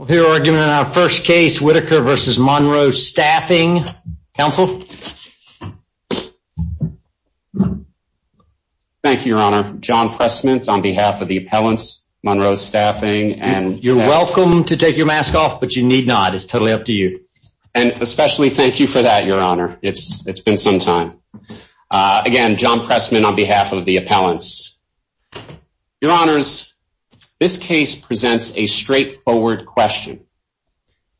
Thank you, Your Honor. John Pressman, on behalf of the appellants, Monroe Staffing, and... You're welcome to take your mask off, but you need not. It's totally up to you. And especially thank you for that, Your Honor. It's been some time. Again, John Pressman on behalf of the appellants. Your Honors, this case presents a straightforward question.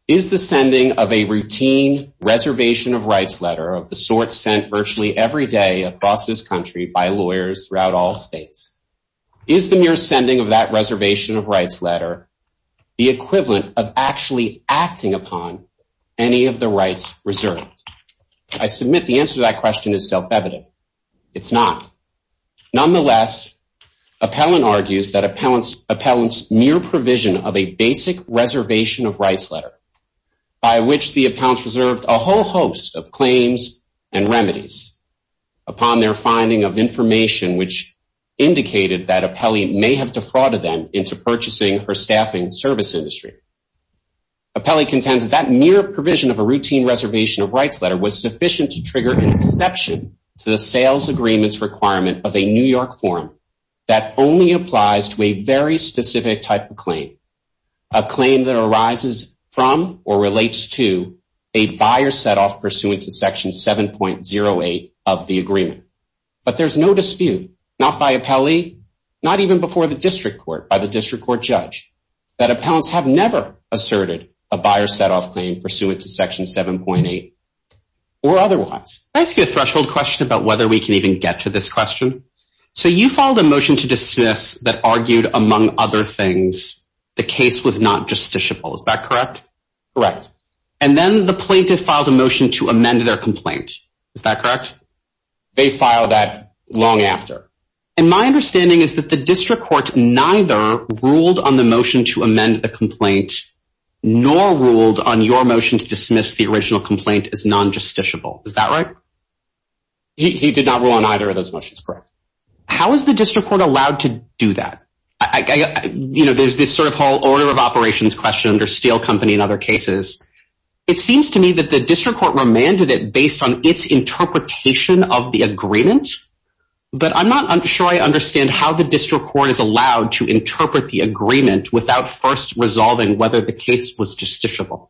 Is the sending of a routine reservation of rights letter of the sort sent virtually every day across this country by lawyers throughout all states... Is the mere sending of that reservation of rights letter the equivalent of actually acting upon any of the rights reserved? I submit the answer to that question is self-evident. It's not. Nonetheless, appellant argues that appellant's mere provision of a basic reservation of rights letter, by which the appellants reserved a whole host of claims and remedies upon their finding of information, which indicated that appellee may have defrauded them into purchasing her staffing service industry. Appellee contends that mere provision of a routine reservation of rights letter was sufficient to trigger an exception to the sales agreement's requirement of a New York form that only applies to a very specific type of claim. A claim that arises from or relates to a buyer set-off pursuant to Section 7.08 of the agreement. But there's no dispute, not by appellee, not even before the district court, by the district court judge, that appellants have never asserted a buyer set-off claim pursuant to Section 7.08 or otherwise. Can I ask you a threshold question about whether we can even get to this question? So you filed a motion to dismiss that argued, among other things, the case was not justiciable. Is that correct? Correct. And then the plaintiff filed a motion to amend their complaint. Is that correct? They filed that long after. And my understanding is that the district court neither ruled on the motion to amend the complaint, nor ruled on your motion to dismiss the original complaint as non-justiciable. Is that right? He did not rule on either of those motions. Correct. How is the district court allowed to do that? You know, there's this sort of whole order of operations question under Steel Company and other cases. It seems to me that the district court remanded it based on its interpretation of the agreement. But I'm not sure I understand how the district court is allowed to interpret the agreement without first resolving whether the case was justiciable.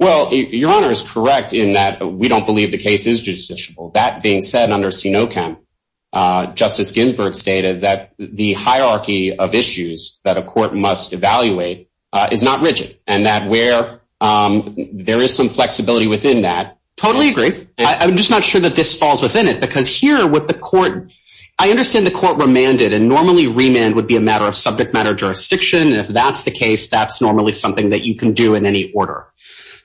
Well, Your Honor is correct in that we don't believe the case is justiciable. That being said, under CINOCAM, Justice Ginsburg stated that the hierarchy of issues that a court must evaluate is not rigid. And that where there is some flexibility within that… Totally agree. I'm just not sure that this falls within it because here with the court… I understand the court remanded and normally remand would be a matter of subject matter jurisdiction. If that's the case, that's normally something that you can do in any order.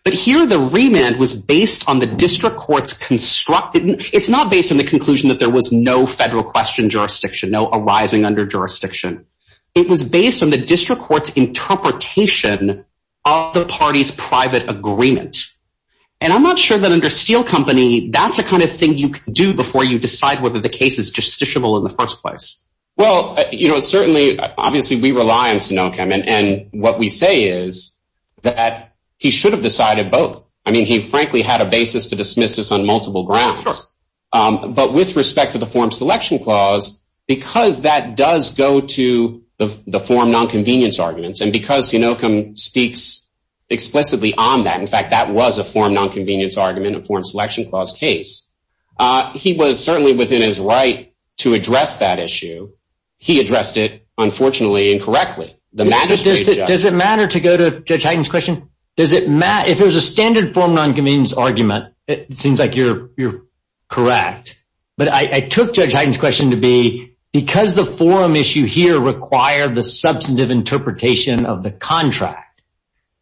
But here the remand was based on the district court's constructed… It's not based on the conclusion that there was no federal question jurisdiction, no arising under jurisdiction. It was based on the district court's interpretation of the party's private agreement. And I'm not sure that under Steel Company, that's the kind of thing you can do before you decide whether the case is justiciable in the first place. Well, you know, certainly, obviously, we rely on CINOCAM. And what we say is that he should have decided both. I mean, he frankly had a basis to dismiss this on multiple grounds. Sure. But with respect to the form selection clause, because that does go to the form nonconvenience arguments and because CINOCAM speaks explicitly on that. In fact, that was a form nonconvenience argument, a form selection clause case. He was certainly within his right to address that issue. He addressed it, unfortunately, incorrectly. Does it matter to go to Judge Hyten's question? If it was a standard form nonconvenience argument, it seems like you're correct. But I took Judge Hyten's question to be because the forum issue here required the substantive interpretation of the contract,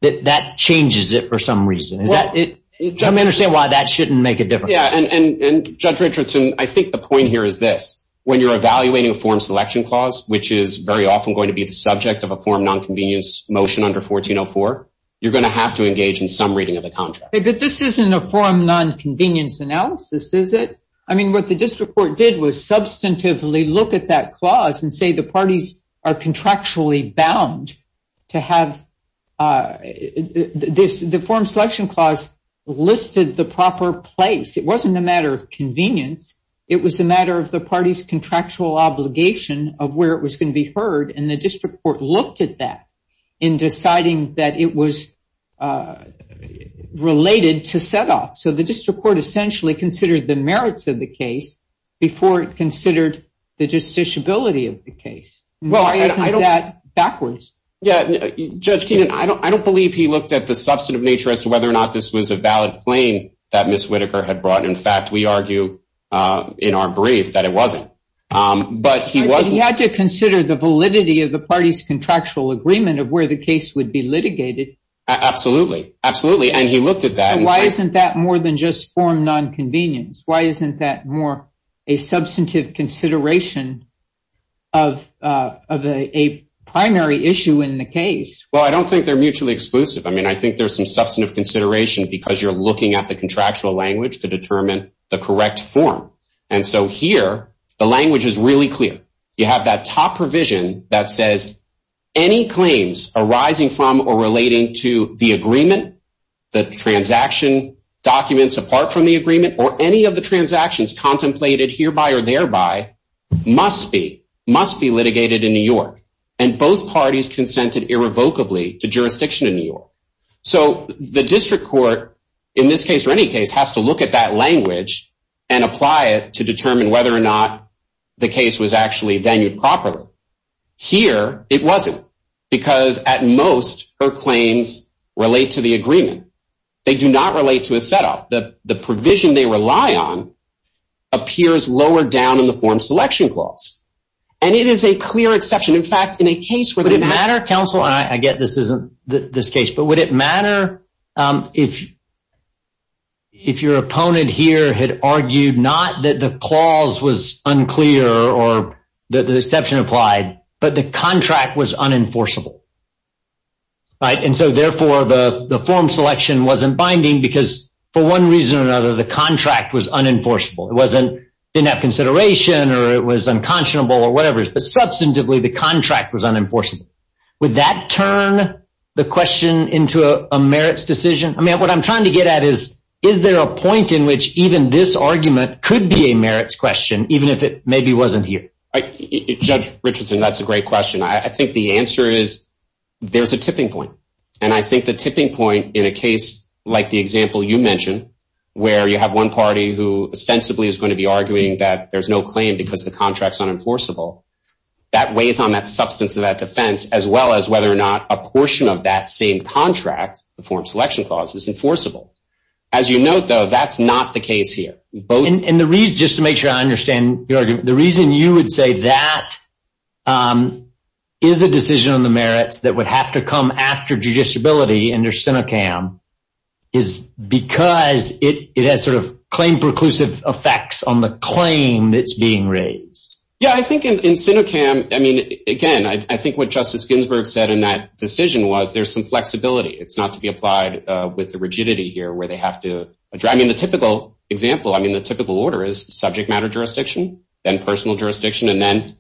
that that changes it for some reason. Let me understand why that shouldn't make a difference. And Judge Richardson, I think the point here is this. When you're evaluating a form selection clause, which is very often going to be the subject of a form nonconvenience motion under 1404, you're going to have to engage in some reading of the contract. But this isn't a form nonconvenience analysis, is it? I mean, what the district court did was substantively look at that clause and say the parties are contractually bound to have this. The form selection clause listed the proper place. It wasn't a matter of convenience. It was a matter of the party's contractual obligation of where it was going to be heard. And the district court looked at that in deciding that it was related to set off. So the district court essentially considered the merits of the case before it considered the justiciability of the case. Why isn't that backwards? Judge Keenan, I don't believe he looked at the substantive nature as to whether or not this was a valid claim that Ms. Whitaker had brought. In fact, we argue in our brief that it wasn't. But he wasn't. He had to consider the validity of the party's contractual agreement of where the case would be litigated. Absolutely. Absolutely. And he looked at that. Why isn't that more than just form nonconvenience? Why isn't that more a substantive consideration of a primary issue in the case? Well, I don't think they're mutually exclusive. I mean, I think there's some substantive consideration because you're looking at the contractual language to determine the correct form. And so here the language is really clear. You have that top provision that says any claims arising from or relating to the agreement, the transaction documents apart from the agreement, or any of the transactions contemplated hereby or thereby must be litigated in New York. And both parties consented irrevocably to jurisdiction in New York. So the district court, in this case or any case, has to look at that language and apply it to determine whether or not the case was actually venued properly. Here it wasn't because at most her claims relate to the agreement. They do not relate to a setup. The provision they rely on appears lower down in the form selection clause. And it is a clear exception. In fact, in a case where the matter… But would it matter if your opponent here had argued not that the clause was unclear or that the exception applied, but the contract was unenforceable? And so therefore the form selection wasn't binding because for one reason or another the contract was unenforceable. It didn't have consideration or it was unconscionable or whatever, but substantively the contract was unenforceable. Would that turn the question into a merits decision? I mean, what I'm trying to get at is, is there a point in which even this argument could be a merits question even if it maybe wasn't here? Judge Richardson, that's a great question. I think the answer is there's a tipping point. And I think the tipping point in a case like the example you mentioned where you have one party who ostensibly is going to be arguing that there's no claim because the contract's unenforceable, that weighs on that substance of that defense as well as whether or not a portion of that same contract, the form selection clause, is enforceable. As you note, though, that's not the case here. And the reason, just to make sure I understand your argument, the reason you would say that is a decision on the merits that would have to come after judiciability under SINOCAM is because it has sort of claim-preclusive effects on the claim that's being raised. Yeah, I think in SINOCAM, I mean, again, I think what Justice Ginsburg said in that decision was there's some flexibility. It's not to be applied with the rigidity here where they have to – I mean, the typical example, I mean, the typical order is subject matter jurisdiction, then personal jurisdiction, and then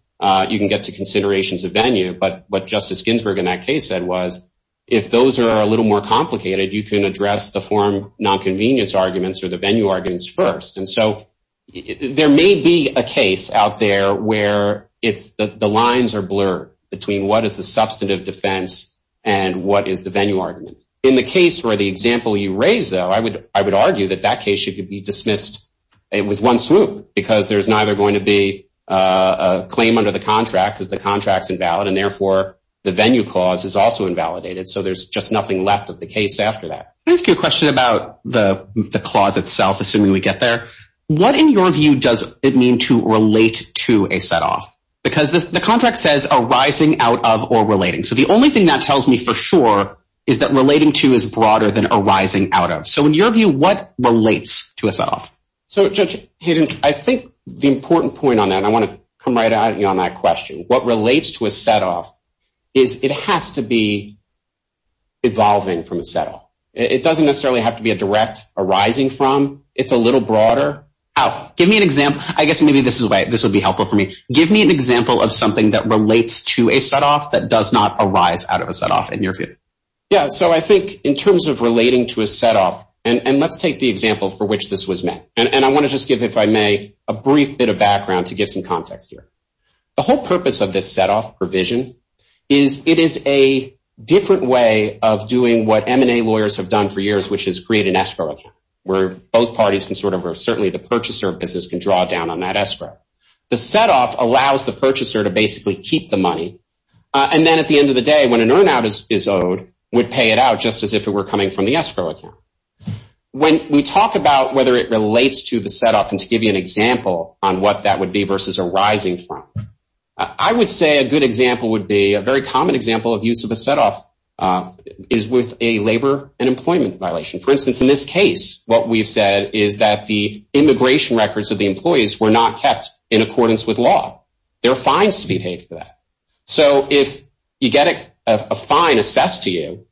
you can get to considerations of venue. But what Justice Ginsburg in that case said was if those are a little more complicated, you can address the form nonconvenience arguments or the venue arguments first. And so there may be a case out there where it's – the lines are blurred between what is the substantive defense and what is the venue argument. In the case where the example you raised, though, I would argue that that case should be dismissed with one swoop because there's neither going to be a claim under the contract because the contract's invalid and, therefore, the venue clause is also invalidated. So there's just nothing left of the case after that. Let me ask you a question about the clause itself, assuming we get there. What, in your view, does it mean to relate to a set-off? Because the contract says arising out of or relating. So the only thing that tells me for sure is that relating to is broader than arising out of. So in your view, what relates to a set-off? So, Judge Hayden, I think the important point on that – and I want to come right at you on that question. What relates to a set-off is it has to be evolving from a set-off. It doesn't necessarily have to be a direct arising from. It's a little broader out. Give me an example. I guess maybe this would be helpful for me. Give me an example of something that relates to a set-off that does not arise out of a set-off in your view. Yeah, so I think in terms of relating to a set-off – and let's take the example for which this was made. And I want to just give, if I may, a brief bit of background to give some context here. The whole purpose of this set-off provision is it is a different way of doing what M&A lawyers have done for years, which is create an escrow account where both parties can sort of – or certainly the purchaser business can draw down on that escrow. The set-off allows the purchaser to basically keep the money. And then at the end of the day, when an earn-out is owed, would pay it out just as if it were coming from the escrow account. When we talk about whether it relates to the set-off, and to give you an example on what that would be versus arising from, I would say a good example would be – a very common example of use of a set-off is with a labor and employment violation. For instance, in this case, what we've said is that the immigration records of the employees were not kept in accordance with law. There are fines to be paid for that. So if you get a fine assessed to you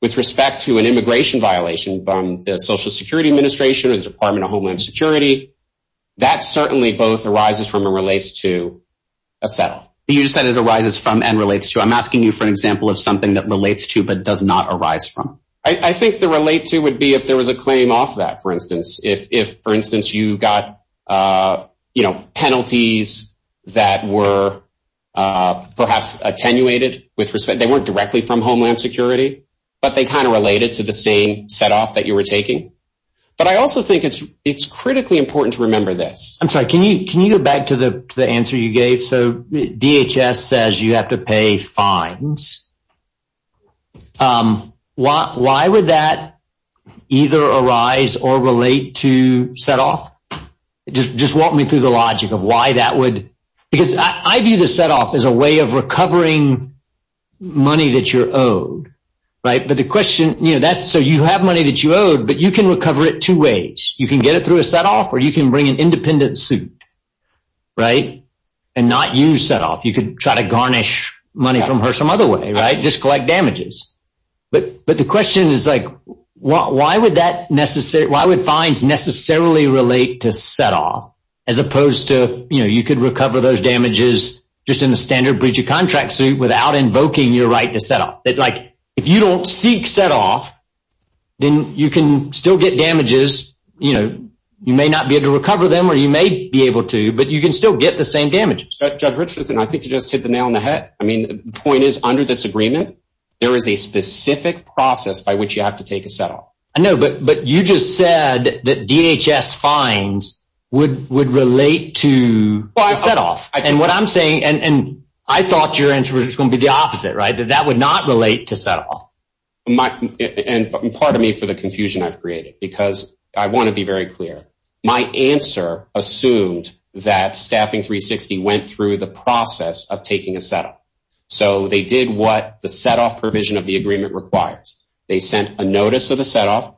with respect to an immigration violation from the Social Security Administration or the Department of Homeland Security, that certainly both arises from and relates to a set-off. You said it arises from and relates to. I'm asking you for an example of something that relates to but does not arise from. I think the relate to would be if there was a claim off that, for instance. If, for instance, you got penalties that were perhaps attenuated with respect – they weren't directly from Homeland Security, but they kind of related to the same set-off that you were taking. But I also think it's critically important to remember this. I'm sorry. Can you go back to the answer you gave? So DHS says you have to pay fines. Why would that either arise or relate to set-off? Just walk me through the logic of why that would – because I view the set-off as a way of recovering money that you're owed. But the question – so you have money that you owed, but you can recover it two ways. You can get it through a set-off or you can bring an independent suit and not use set-off. You could try to garnish money from her some other way, just collect damages. But the question is why would fines necessarily relate to set-off as opposed to you could recover those damages just in a standard breach of contract suit without invoking your right to set-off? If you don't seek set-off, then you can still get damages. You may not be able to recover them or you may be able to, but you can still get the same damages. Judge Richardson, I think you just hit the nail on the head. I mean the point is under this agreement, there is a specific process by which you have to take a set-off. I know, but you just said that DHS fines would relate to set-off. And what I'm saying – and I thought your answer was going to be the opposite, right, that that would not relate to set-off. And pardon me for the confusion I've created because I want to be very clear. My answer assumed that Staffing 360 went through the process of taking a set-off. So they did what the set-off provision of the agreement requires. They sent a notice of the set-off.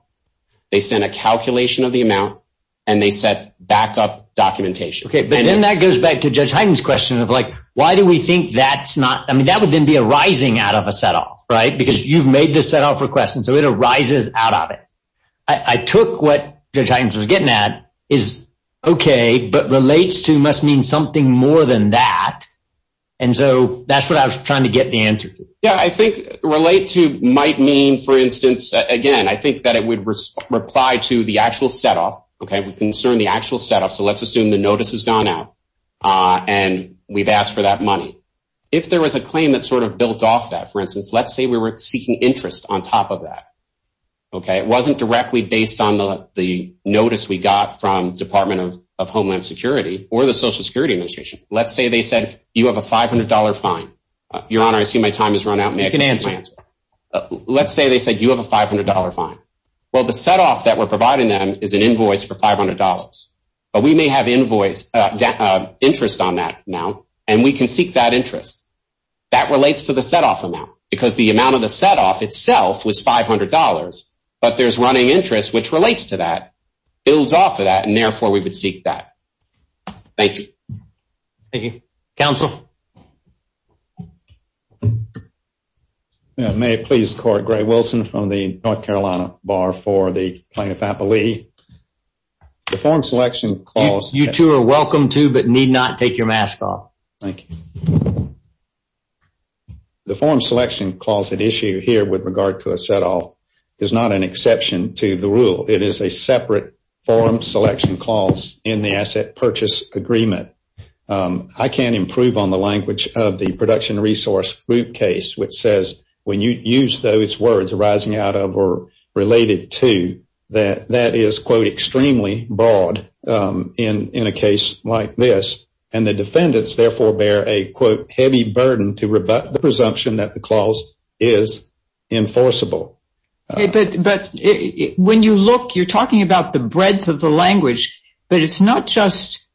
They sent a calculation of the amount, and they set back-up documentation. Okay, but then that goes back to Judge Hyten's question of like why do we think that's not – I mean that would then be a rising out of a set-off, right? Because you've made the set-off request, and so it arises out of it. I took what Judge Hyten was getting at is okay, but relates to must mean something more than that. And so that's what I was trying to get the answer to. Yeah, I think relate to might mean, for instance, again, I think that it would reply to the actual set-off. Okay, we concern the actual set-off, so let's assume the notice has gone out, and we've asked for that money. If there was a claim that sort of built off that, for instance, let's say we were seeking interest on top of that. Okay, it wasn't directly based on the notice we got from Department of Homeland Security or the Social Security Administration. Let's say they said you have a $500 fine. Your Honor, I see my time has run out. You can answer. Let's say they said you have a $500 fine. Well, the set-off that we're providing them is an invoice for $500. But we may have interest on that now, and we can seek that interest. That relates to the set-off amount because the amount of the set-off itself was $500, but there's running interest which relates to that, builds off of that, and therefore we would seek that. Thank you. Thank you. Counsel? May it please the Court? Gray Wilson from the North Carolina Bar for the Plaintiff-Appelee. The form selection clause… You two are welcome to, but need not take your mask off. Thank you. The form selection clause at issue here with regard to a set-off is not an exception to the rule. It is a separate form selection clause in the asset purchase agreement. I can't improve on the language of the production resource group case, which says when you use those words arising out of or related to, that that is, quote, extremely broad in a case like this. And the defendants therefore bear a, quote, heavy burden to rebut the presumption that the clause is enforceable. But when you look, you're talking about the breadth of the language, but it's not just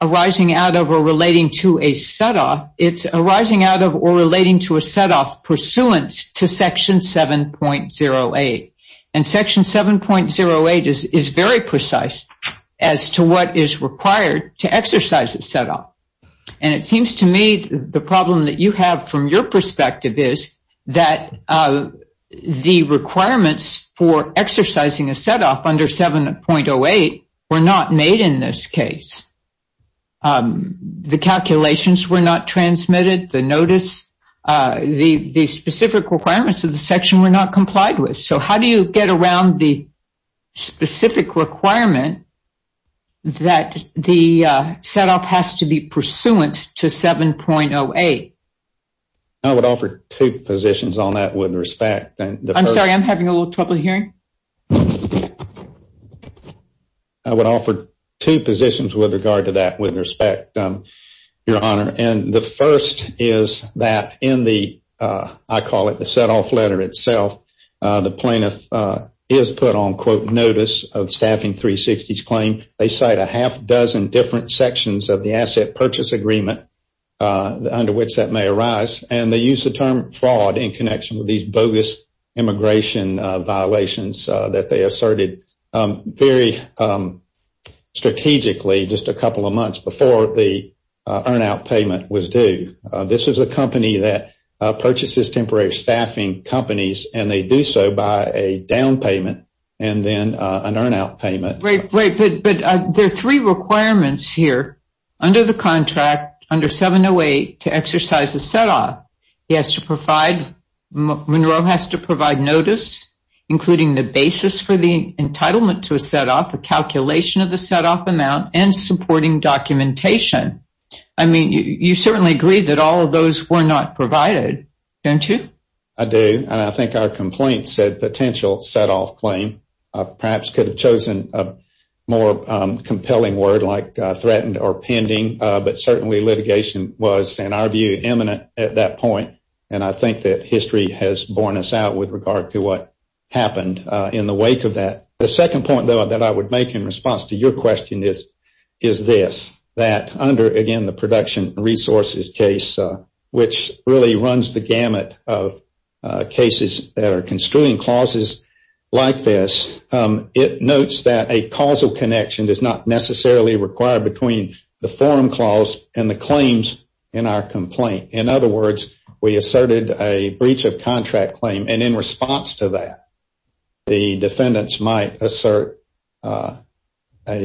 arising out of or relating to a set-off. It's arising out of or relating to a set-off pursuant to Section 7.08. And Section 7.08 is very precise as to what is required to exercise a set-off. And it seems to me the problem that you have from your perspective is that the requirements for exercising a set-off under 7.08 were not made in this case. The calculations were not transmitted. The specific requirements of the section were not complied with. So how do you get around the specific requirement that the set-off has to be pursuant to 7.08? I would offer two positions on that with respect. I'm sorry, I'm having a little trouble hearing. I would offer two positions with regard to that with respect, Your Honor. And the first is that in the, I call it the set-off letter itself, the plaintiff is put on, quote, notice of staffing 360's claim. They cite a half dozen different sections of the asset purchase agreement under which that may arise. And they use the term fraud in connection with these bogus immigration violations that they asserted very strategically just a couple of months before the earn-out payment was due. This was a company that purchases temporary staffing companies, and they do so by a down payment and then an earn-out payment. But there are three requirements here under the contract, under 7.08, to exercise a set-off. He has to provide, Monroe has to provide notice, including the basis for the entitlement to a set-off, a calculation of the set-off amount, and supporting documentation. I mean, you certainly agree that all of those were not provided, don't you? I do, and I think our complaint said potential set-off claim. Perhaps could have chosen a more compelling word like threatened or pending, but certainly litigation was, in our view, imminent at that point. And I think that history has borne us out with regard to what happened in the wake of that. The second point, though, that I would make in response to your question is this, that under, again, the production resources case, which really runs the gamut of cases that are construing clauses like this, it notes that a causal connection is not necessarily required between the forum clause and the claims in our complaint. In other words, we asserted a breach of contract claim, and in response to that, the defendants might assert a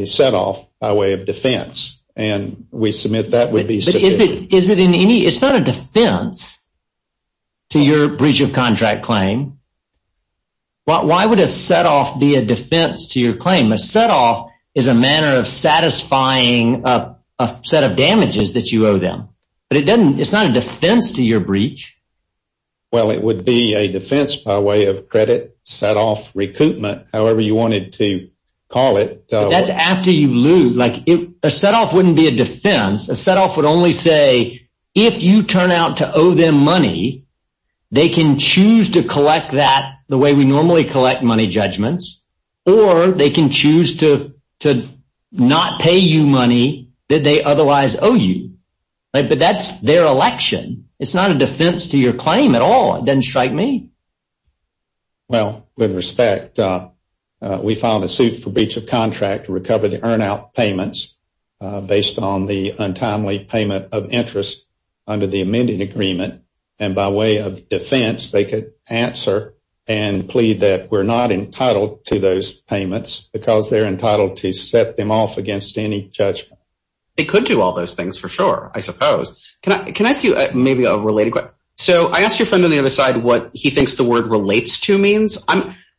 set-off by way of defense, and we submit that would be sufficient. It's not a defense to your breach of contract claim. Why would a set-off be a defense to your claim? A set-off is a manner of satisfying a set of damages that you owe them, but it's not a defense to your breach. Well, it would be a defense by way of credit, set-off, recoupment, however you wanted to call it. That's after you lose. A set-off wouldn't be a defense. A set-off would only say if you turn out to owe them money, they can choose to collect that the way we normally collect money judgments, or they can choose to not pay you money that they otherwise owe you. But that's their election. It's not a defense to your claim at all. It doesn't strike me. Well, with respect, we filed a suit for breach of contract to recover the earn-out payments based on the untimely payment of interest under the amended agreement, and by way of defense, they could answer and plead that we're not entitled to those payments because they're entitled to set them off against any judgment. They could do all those things for sure, I suppose. Can I ask you maybe a related question? Sure. So I asked your friend on the other side what he thinks the word relates to means.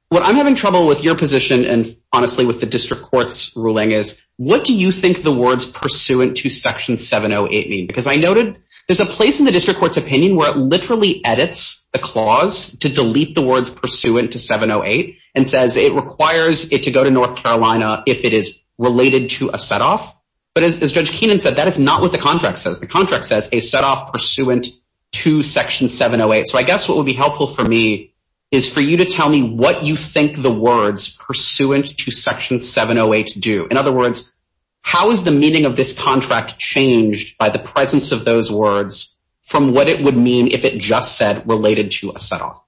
What I'm having trouble with your position and honestly with the district court's ruling is what do you think the words pursuant to section 708 mean? Because I noted there's a place in the district court's opinion where it literally edits the clause to delete the words pursuant to 708 and says it requires it to go to North Carolina if it is related to a set-off. But as Judge Keenan said, that is not what the contract says. The contract says a set-off pursuant to section 708. So I guess what would be helpful for me is for you to tell me what you think the words pursuant to section 708 do. In other words, how is the meaning of this contract changed by the presence of those words from what it would mean if it just said related to a set-off?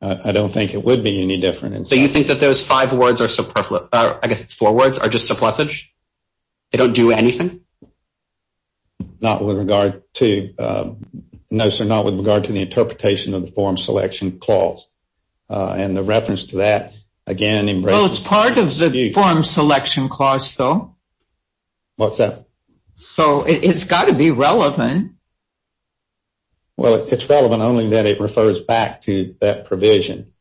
I don't think it would be any different. So you think that those five words are, I guess it's four words, are just subplussage? They don't do anything? Not with regard to the interpretation of the form selection clause. And the reference to that again embraces the dispute. Well, it's part of the form selection clause, though. What's that? So it's got to be relevant. Well, it's relevant only that it refers back to that provision.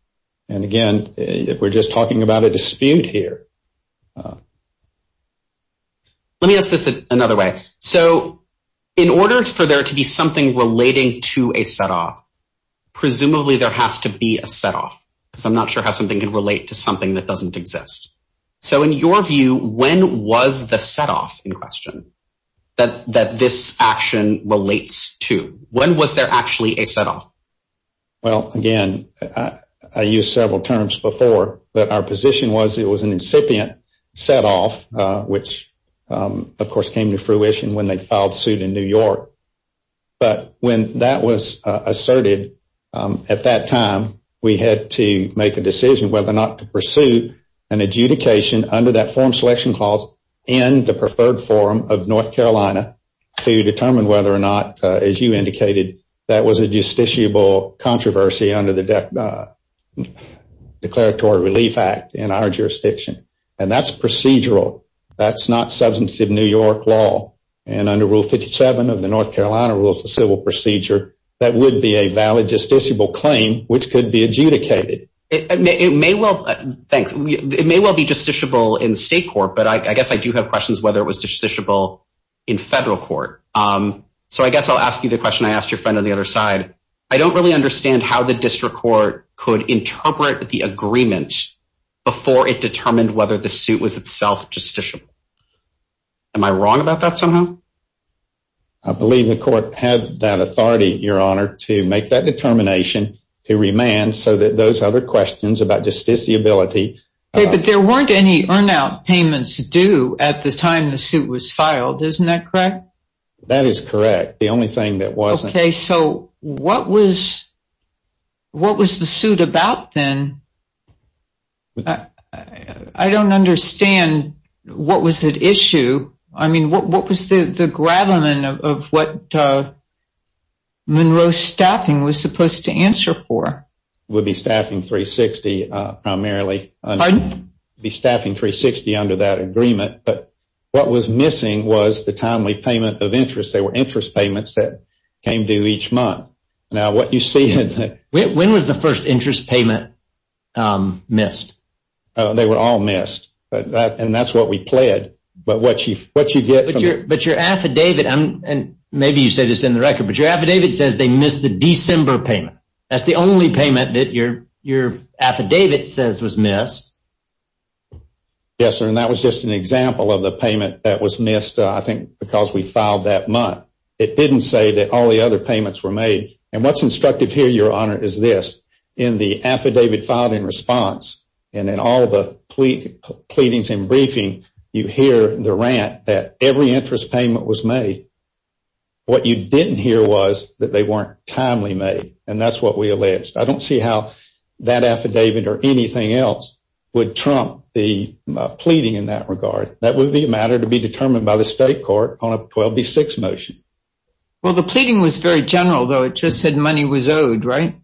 And, again, we're just talking about a dispute here. Let me ask this another way. So in order for there to be something relating to a set-off, presumably there has to be a set-off. Because I'm not sure how something can relate to something that doesn't exist. So in your view, when was the set-off in question that this action relates to? When was there actually a set-off? Well, again, I used several terms before. But our position was it was an incipient set-off, which, of course, came to fruition when they filed suit in New York. But when that was asserted at that time, we had to make a decision whether or not to pursue an adjudication under that form selection clause in the preferred forum of North Carolina to determine whether or not, as you indicated, that was a justiciable controversy under the Declaratory Relief Act in our jurisdiction. And that's procedural. That's not substantive New York law. And under Rule 57 of the North Carolina Rules of Civil Procedure, that would be a valid justiciable claim, which could be adjudicated. It may well be justiciable in state court, but I guess I do have questions whether it was justiciable in federal court. So I guess I'll ask you the question I asked your friend on the other side. I don't really understand how the district court could interpret the agreement before it determined whether the suit was itself justiciable. Am I wrong about that somehow? I believe the court had that authority, Your Honor, to make that determination to remand so that those other questions about justiciability— Isn't that correct? That is correct. The only thing that wasn't— Okay. So what was the suit about then? I don't understand what was at issue. I mean, what was the gravamen of what Monroe's staffing was supposed to answer for? It would be staffing 360 primarily. Pardon? It would be staffing 360 under that agreement. But what was missing was the timely payment of interest. There were interest payments that came due each month. Now, what you see— When was the first interest payment missed? They were all missed, and that's what we pled. But what you get— But your affidavit—and maybe you say this in the record— but your affidavit says they missed the December payment. That's the only payment that your affidavit says was missed. Yes, sir, and that was just an example of the payment that was missed, I think, because we filed that month. It didn't say that all the other payments were made. And what's instructive here, Your Honor, is this. In the affidavit filed in response and in all the pleadings and briefing, you hear the rant that every interest payment was made. What you didn't hear was that they weren't timely made, and that's what we alleged. I don't see how that affidavit or anything else would trump the pleading in that regard. That would be a matter to be determined by the state court on a 12B6 motion. Well, the pleading was very general, though. It just said money was owed, right?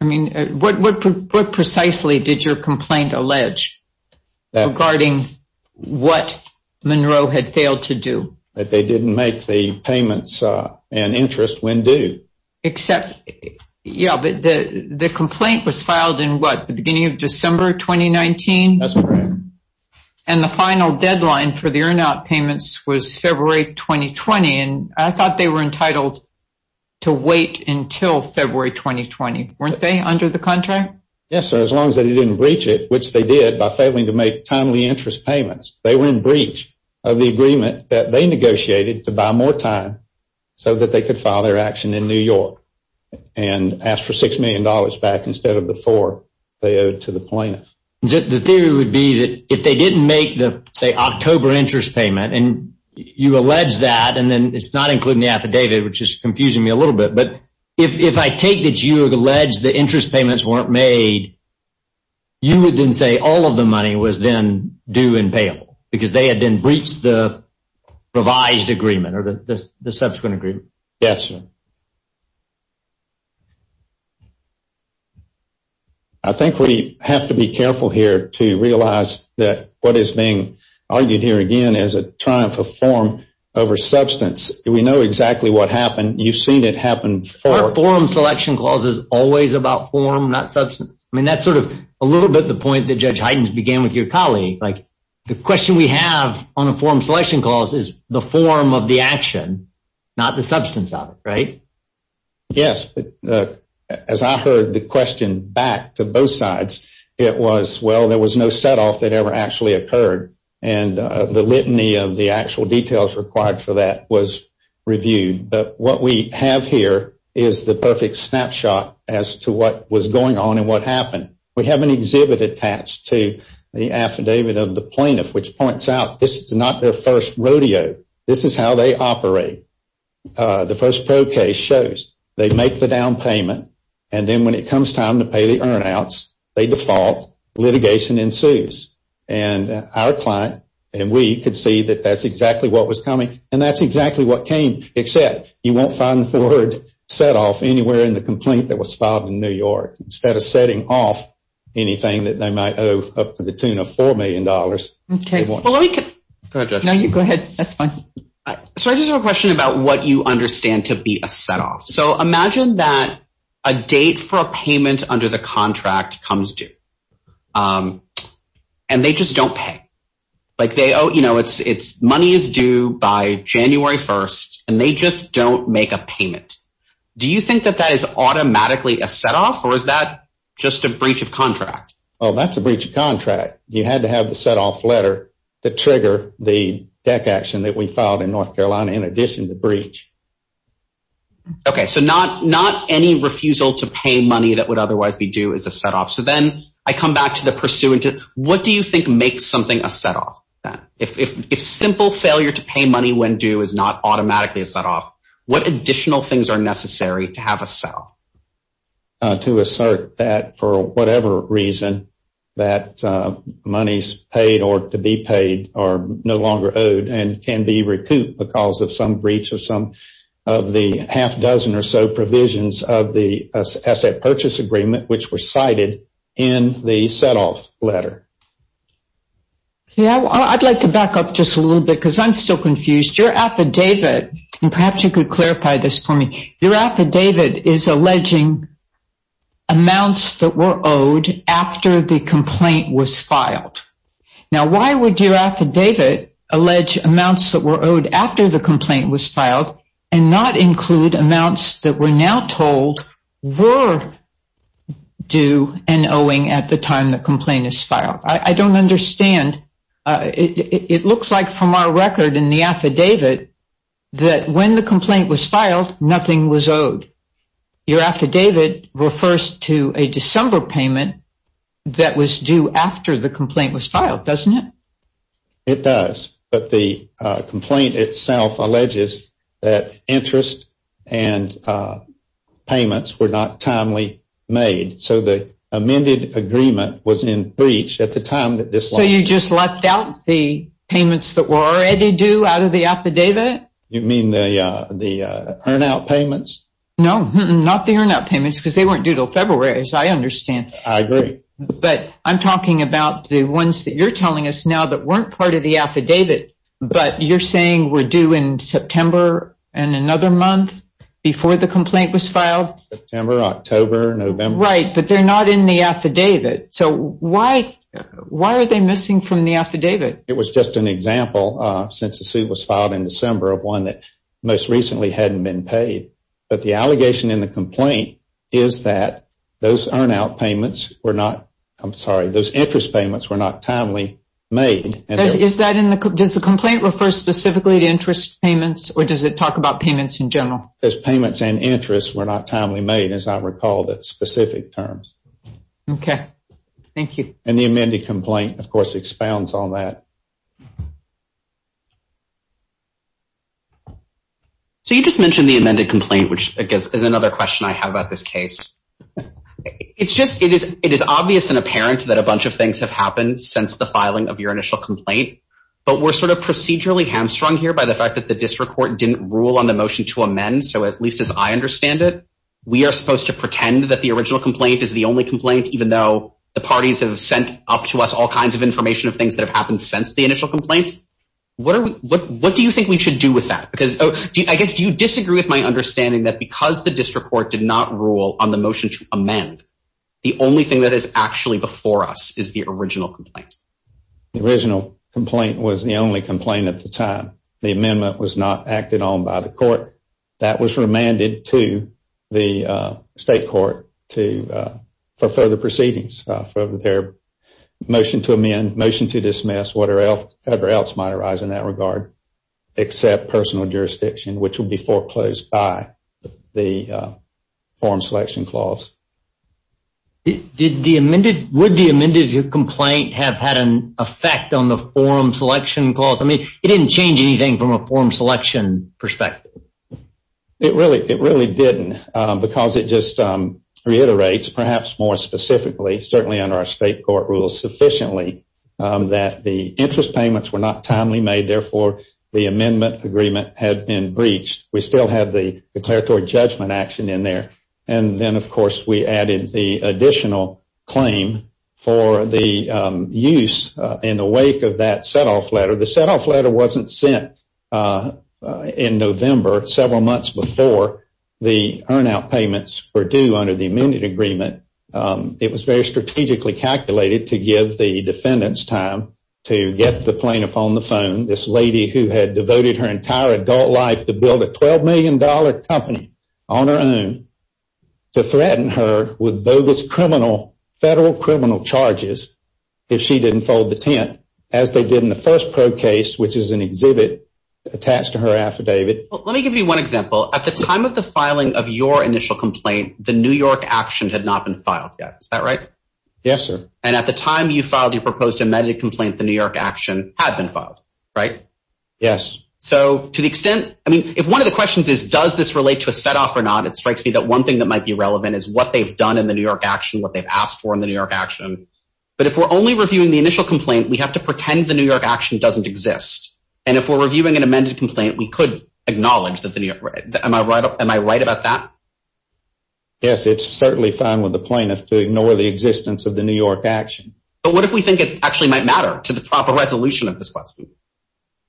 I mean, what precisely did your complaint allege regarding what Monroe had failed to do? That they didn't make the payments and interest when due. Except, yeah, but the complaint was filed in what, the beginning of December 2019? That's correct. And the final deadline for the earn-out payments was February 2020, and I thought they were entitled to wait until February 2020. Weren't they, under the contract? Yes, sir, as long as they didn't breach it, which they did by failing to make timely interest payments. They were in breach of the agreement that they negotiated to buy more time so that they could file their action in New York and ask for $6 million back instead of the 4 they owed to the plaintiff. The theory would be that if they didn't make the, say, October interest payment, and you allege that, and then it's not including the affidavit, which is confusing me a little bit, but if I take that you allege the interest payments weren't made, you would then say all of the money was then due and payable, because they had then breached the revised agreement or the subsequent agreement? Yes, sir. I think we have to be careful here to realize that what is being argued here, again, is a triumph of form over substance. We know exactly what happened. You've seen it happen before. The forum selection clause is always about form, not substance. I mean, that's sort of a little bit the point that Judge Heidens began with your colleague. Like, the question we have on a forum selection clause is the form of the action, not the substance of it, right? Yes. As I heard the question back to both sides, it was, well, there was no setoff that ever actually occurred, and the litany of the actual details required for that was reviewed. But what we have here is the perfect snapshot as to what was going on and what happened. We have an exhibit attached to the affidavit of the plaintiff which points out this is not their first rodeo. This is how they operate. The first pro case shows they make the down payment, and then when it comes time to pay the earnouts, they default, litigation ensues. And our client and we could see that that's exactly what was coming, and that's exactly what came except you won't find the forward setoff anywhere in the complaint that was filed in New York. Instead of setting off anything that they might owe up to the tune of $4 million. Okay. Go ahead, Judge. No, you go ahead. That's fine. So I just have a question about what you understand to be a setoff. So imagine that a date for a payment under the contract comes due, and they just don't pay. You know, money is due by January 1st, and they just don't make a payment. Do you think that that is automatically a setoff, or is that just a breach of contract? Oh, that's a breach of contract. You had to have the setoff letter to trigger the deck action that we filed in North Carolina in addition to the breach. Okay. So not any refusal to pay money that would otherwise be due is a setoff. So then I come back to the pursuant. What do you think makes something a setoff? If simple failure to pay money when due is not automatically a setoff, what additional things are necessary to have a setoff? To assert that for whatever reason that money is paid or to be paid or no longer owed and can be recouped because of some breach of some of the half dozen or so provisions of the asset purchase agreement, which were cited in the setoff letter. Yeah, I'd like to back up just a little bit because I'm still confused. Your affidavit, and perhaps you could clarify this for me, your affidavit is alleging amounts that were owed after the complaint was filed. Now, why would your affidavit allege amounts that were owed after the complaint was filed and not include amounts that we're now told were due and owing at the time the complaint is filed? I don't understand. It looks like from our record in the affidavit that when the complaint was filed, nothing was owed. Your affidavit refers to a December payment that was due after the complaint was filed, doesn't it? It does, but the complaint itself alleges that interest and payments were not timely made. So the amended agreement was in breach at the time that this letter was filed. So you just left out the payments that were already due out of the affidavit? You mean the earn-out payments? No, not the earn-out payments because they weren't due until February, as I understand. I agree. But I'm talking about the ones that you're telling us now that weren't part of the affidavit, but you're saying were due in September and another month before the complaint was filed? September, October, November. Right, but they're not in the affidavit. So why are they missing from the affidavit? It was just an example, since the suit was filed in December, of one that most recently hadn't been paid. But the allegation in the complaint is that those interest payments were not timely made. Does the complaint refer specifically to interest payments, or does it talk about payments in general? It says payments and interest were not timely made, as I recall the specific terms. Okay, thank you. And the amended complaint, of course, expounds on that. So you just mentioned the amended complaint, which I guess is another question I have about this case. It's just it is obvious and apparent that a bunch of things have happened since the filing of your initial complaint, but we're sort of procedurally hamstrung here by the fact that the district court didn't rule on the motion to amend, so at least as I understand it, we are supposed to pretend that the original complaint is the only complaint, even though the parties have sent up to us all kinds of information of things that have happened since the initial complaint. What do you think we should do with that? Because I guess do you disagree with my understanding that because the district court did not rule on the motion to amend, the only thing that is actually before us is the original complaint? The original complaint was the only complaint at the time. The amendment was not acted on by the court. That was remanded to the state court for further proceedings, for their motion to amend, motion to dismiss, whatever else might arise in that regard, except personal jurisdiction, which would be foreclosed by the form selection clause. Would the amended complaint have had an effect on the form selection clause? I mean, it didn't change anything from a form selection perspective. It really didn't because it just reiterates, perhaps more specifically, certainly under our state court rules sufficiently, that the interest payments were not timely made. Therefore, the amendment agreement had been breached. We still had the declaratory judgment action in there, and then, of course, we added the additional claim for the use in the wake of that setoff letter. The setoff letter wasn't sent in November, several months before the earn-out payments were due under the amended agreement. It was very strategically calculated to give the defendants time to get the plaintiff on the phone, this lady who had devoted her entire adult life to build a $12 million company on her own, to threaten her with bogus federal criminal charges if she didn't fold the tent, as they did in the first probe case, which is an exhibit attached to her affidavit. Let me give you one example. At the time of the filing of your initial complaint, the New York action had not been filed yet. Is that right? Yes, sir. And at the time you filed your proposed amended complaint, the New York action had been filed, right? Yes. So to the extent—I mean, if one of the questions is, does this relate to a setoff or not, it strikes me that one thing that might be relevant is what they've done in the New York action, what they've asked for in the New York action. But if we're only reviewing the initial complaint, we have to pretend the New York action doesn't exist. And if we're reviewing an amended complaint, we could acknowledge that the New York—am I right about that? Yes, it's certainly fine with the plaintiff to ignore the existence of the New York action. But what if we think it actually might matter to the proper resolution of this question?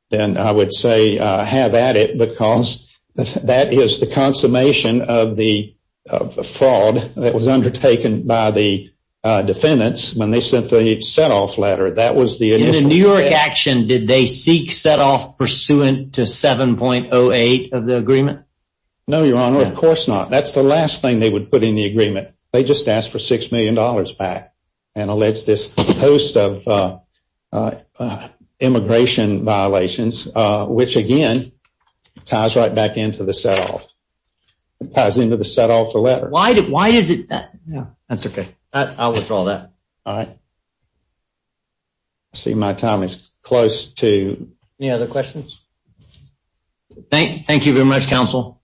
Then I would say have at it because that is the consummation of the fraud that was undertaken by the defendants when they sent the setoff letter. That was the initial— In the New York action, did they seek setoff pursuant to 7.08 of the agreement? No, Your Honor, of course not. They just asked for $6 million back and alleged this host of immigration violations, which, again, ties right back into the setoff. It ties into the setoff of the letter. Why does it— No, that's okay. I'll withdraw that. All right. I see my time is close to— Any other questions? Thank you very much, counsel.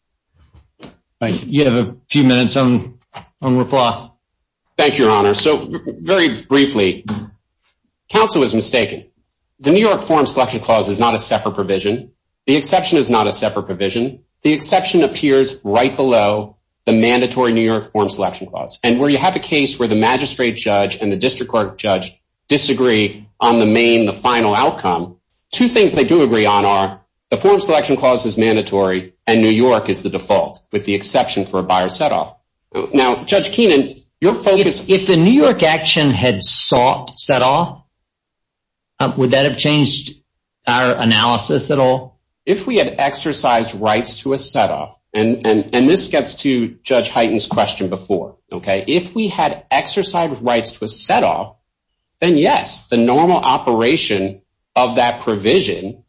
Thank you. You have a few minutes on reply. Thank you, Your Honor. So, very briefly, counsel was mistaken. The New York form selection clause is not a separate provision. The exception is not a separate provision. The exception appears right below the mandatory New York form selection clause. And where you have a case where the magistrate judge and the district court judge disagree on the main, the final outcome, two things they do agree on are the form selection clause is mandatory and New York is the default with the exception for a buyer setoff. Now, Judge Keenan, your focus— If the New York action had sought setoff, would that have changed our analysis at all? If we had exercised rights to a setoff, and this gets to Judge Hyten's question before, okay, if we had exercised rights to a setoff, then yes, the normal operation of that provision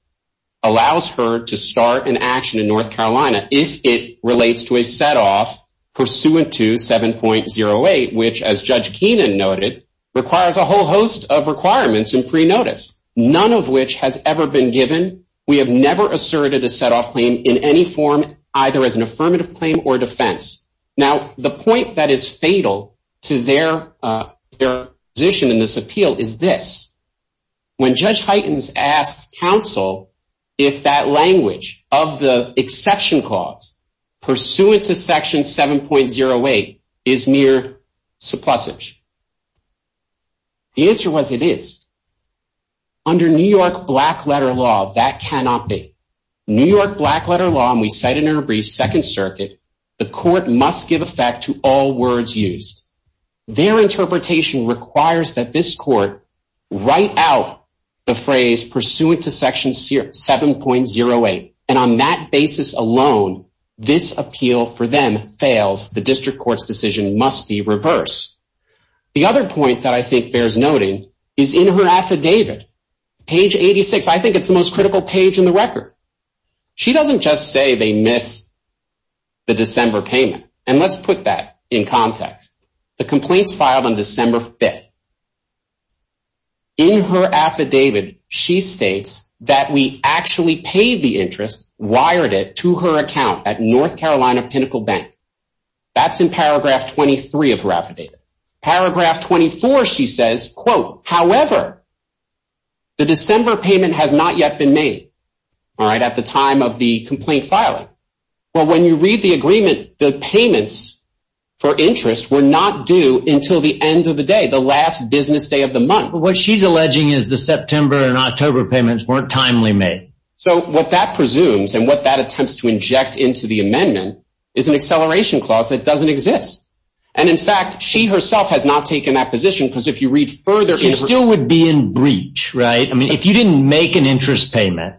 allows her to start an action in North Carolina if it relates to a setoff pursuant to 7.08, which, as Judge Keenan noted, requires a whole host of requirements in pre-notice, none of which has ever been given. We have never asserted a setoff claim in any form, either as an affirmative claim or defense. Now, the point that is fatal to their position in this appeal is this. When Judge Hyten asked counsel if that language of the exception clause pursuant to Section 7.08 is mere supposage, the answer was it is. Under New York Black Letter Law, that cannot be. New York Black Letter Law, and we cite it in our brief, Second Circuit, the court must give effect to all words used. Their interpretation requires that this court write out the phrase pursuant to Section 7.08, and on that basis alone, this appeal for them fails. The district court's decision must be reversed. The other point that I think bears noting is in her affidavit, page 86. I think it's the most critical page in the record. She doesn't just say they missed the December payment, and let's put that in context. The complaints filed on December 5th. In her affidavit, she states that we actually paid the interest, wired it to her account at North Carolina Pinnacle Bank. That's in paragraph 23 of her affidavit. Paragraph 24, she says, however, the December payment has not yet been made at the time of the complaint filing. When you read the agreement, the payments for interest were not due until the end of the day, the last business day of the month. What she's alleging is the September and October payments weren't timely made. What that presumes and what that attempts to inject into the amendment is an acceleration clause that doesn't exist. And, in fact, she herself has not taken that position because if you read further She still would be in breach, right? I mean, if you didn't make an interest payment,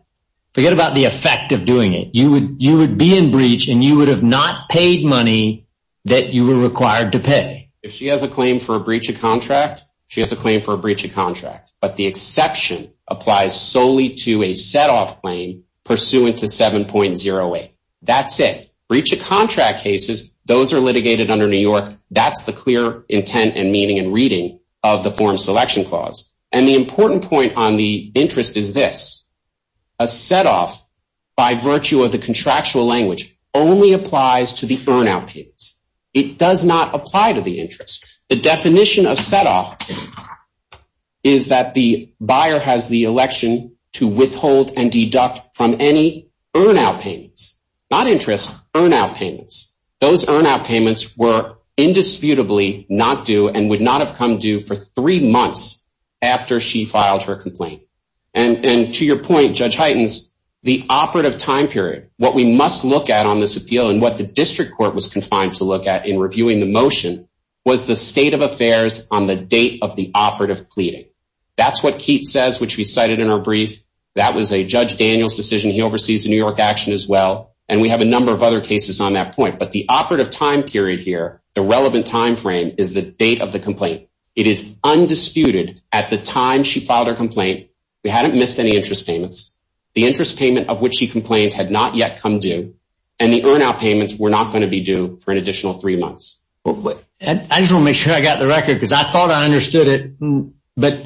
forget about the effect of doing it. You would be in breach, and you would have not paid money that you were required to pay. If she has a claim for a breach of contract, she has a claim for a breach of contract. But the exception applies solely to a set-off claim pursuant to 7.08. That's it. Breach of contract cases, those are litigated under New York. That's the clear intent and meaning and reading of the form selection clause. And the important point on the interest is this. A set-off, by virtue of the contractual language, only applies to the earn-out payments. It does not apply to the interest. The definition of set-off is that the buyer has the election to withhold and deduct from any earn-out payments. Not interest, earn-out payments. Those earn-out payments were indisputably not due and would not have come due for three months after she filed her complaint. And, to your point, Judge Hytens, the operative time period, what we must look at on this appeal and what the district court was confined to look at in reviewing the motion was the state of affairs on the date of the operative pleading. That's what Keats says, which we cited in our brief. That was a Judge Daniels decision. He oversees the New York action as well. And we have a number of other cases on that point. But the operative time period here, the relevant time frame, is the date of the complaint. It is undisputed at the time she filed her complaint we hadn't missed any interest payments. The interest payment of which she complains had not yet come due. And the earn-out payments were not going to be due for an additional three months. I just want to make sure I got the record because I thought I understood it. But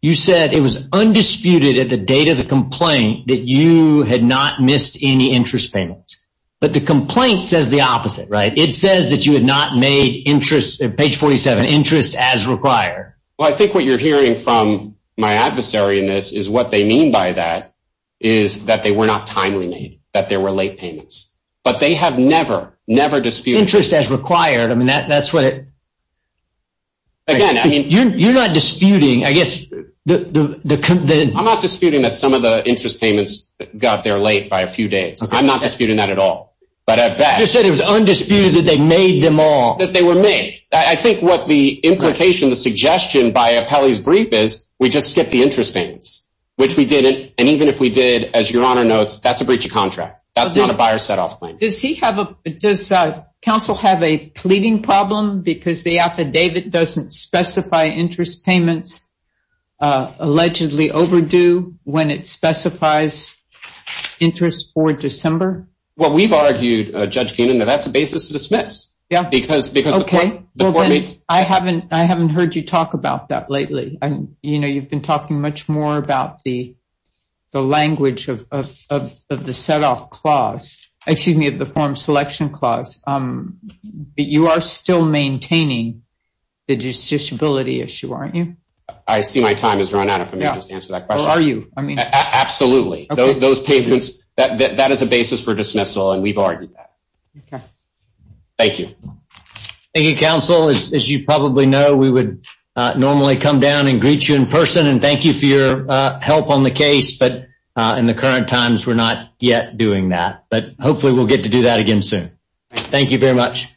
you said it was undisputed at the date of the complaint that you had not missed any interest payments. But the complaint says the opposite, right? It says that you had not made interest, page 47, interest as required. Well, I think what you're hearing from my adversary in this is what they mean by that is that they were not timely made, that there were late payments. But they have never, never disputed interest as required. I mean, that's what it— You're disputing, I guess, the— I'm not disputing that some of the interest payments got there late by a few days. I'm not disputing that at all. But at best— You said it was undisputed that they made them all. That they were made. I think what the implication, the suggestion by Apelli's brief is we just skip the interest payments, which we didn't. And even if we did, as Your Honor notes, that's a breach of contract. That's not a buyer set-off claim. Does counsel have a pleading problem because the affidavit doesn't specify interest payments allegedly overdue when it specifies interest for December? Well, we've argued, Judge Keenan, that that's a basis to dismiss. Yeah. Because the court— I haven't heard you talk about that lately. You know, you've been talking much more about the language of the set-off clause— excuse me, of the form selection clause. But you are still maintaining the disability issue, aren't you? I see my time has run out if I may just answer that question. Well, are you? Absolutely. Those payments— That is a basis for dismissal, and we've argued that. Okay. Thank you. Thank you, counsel. As you probably know, we would normally come down and greet you in person and thank you for your help on the case. But in the current times, we're not yet doing that. But hopefully we'll get to do that again soon. Thank you very much.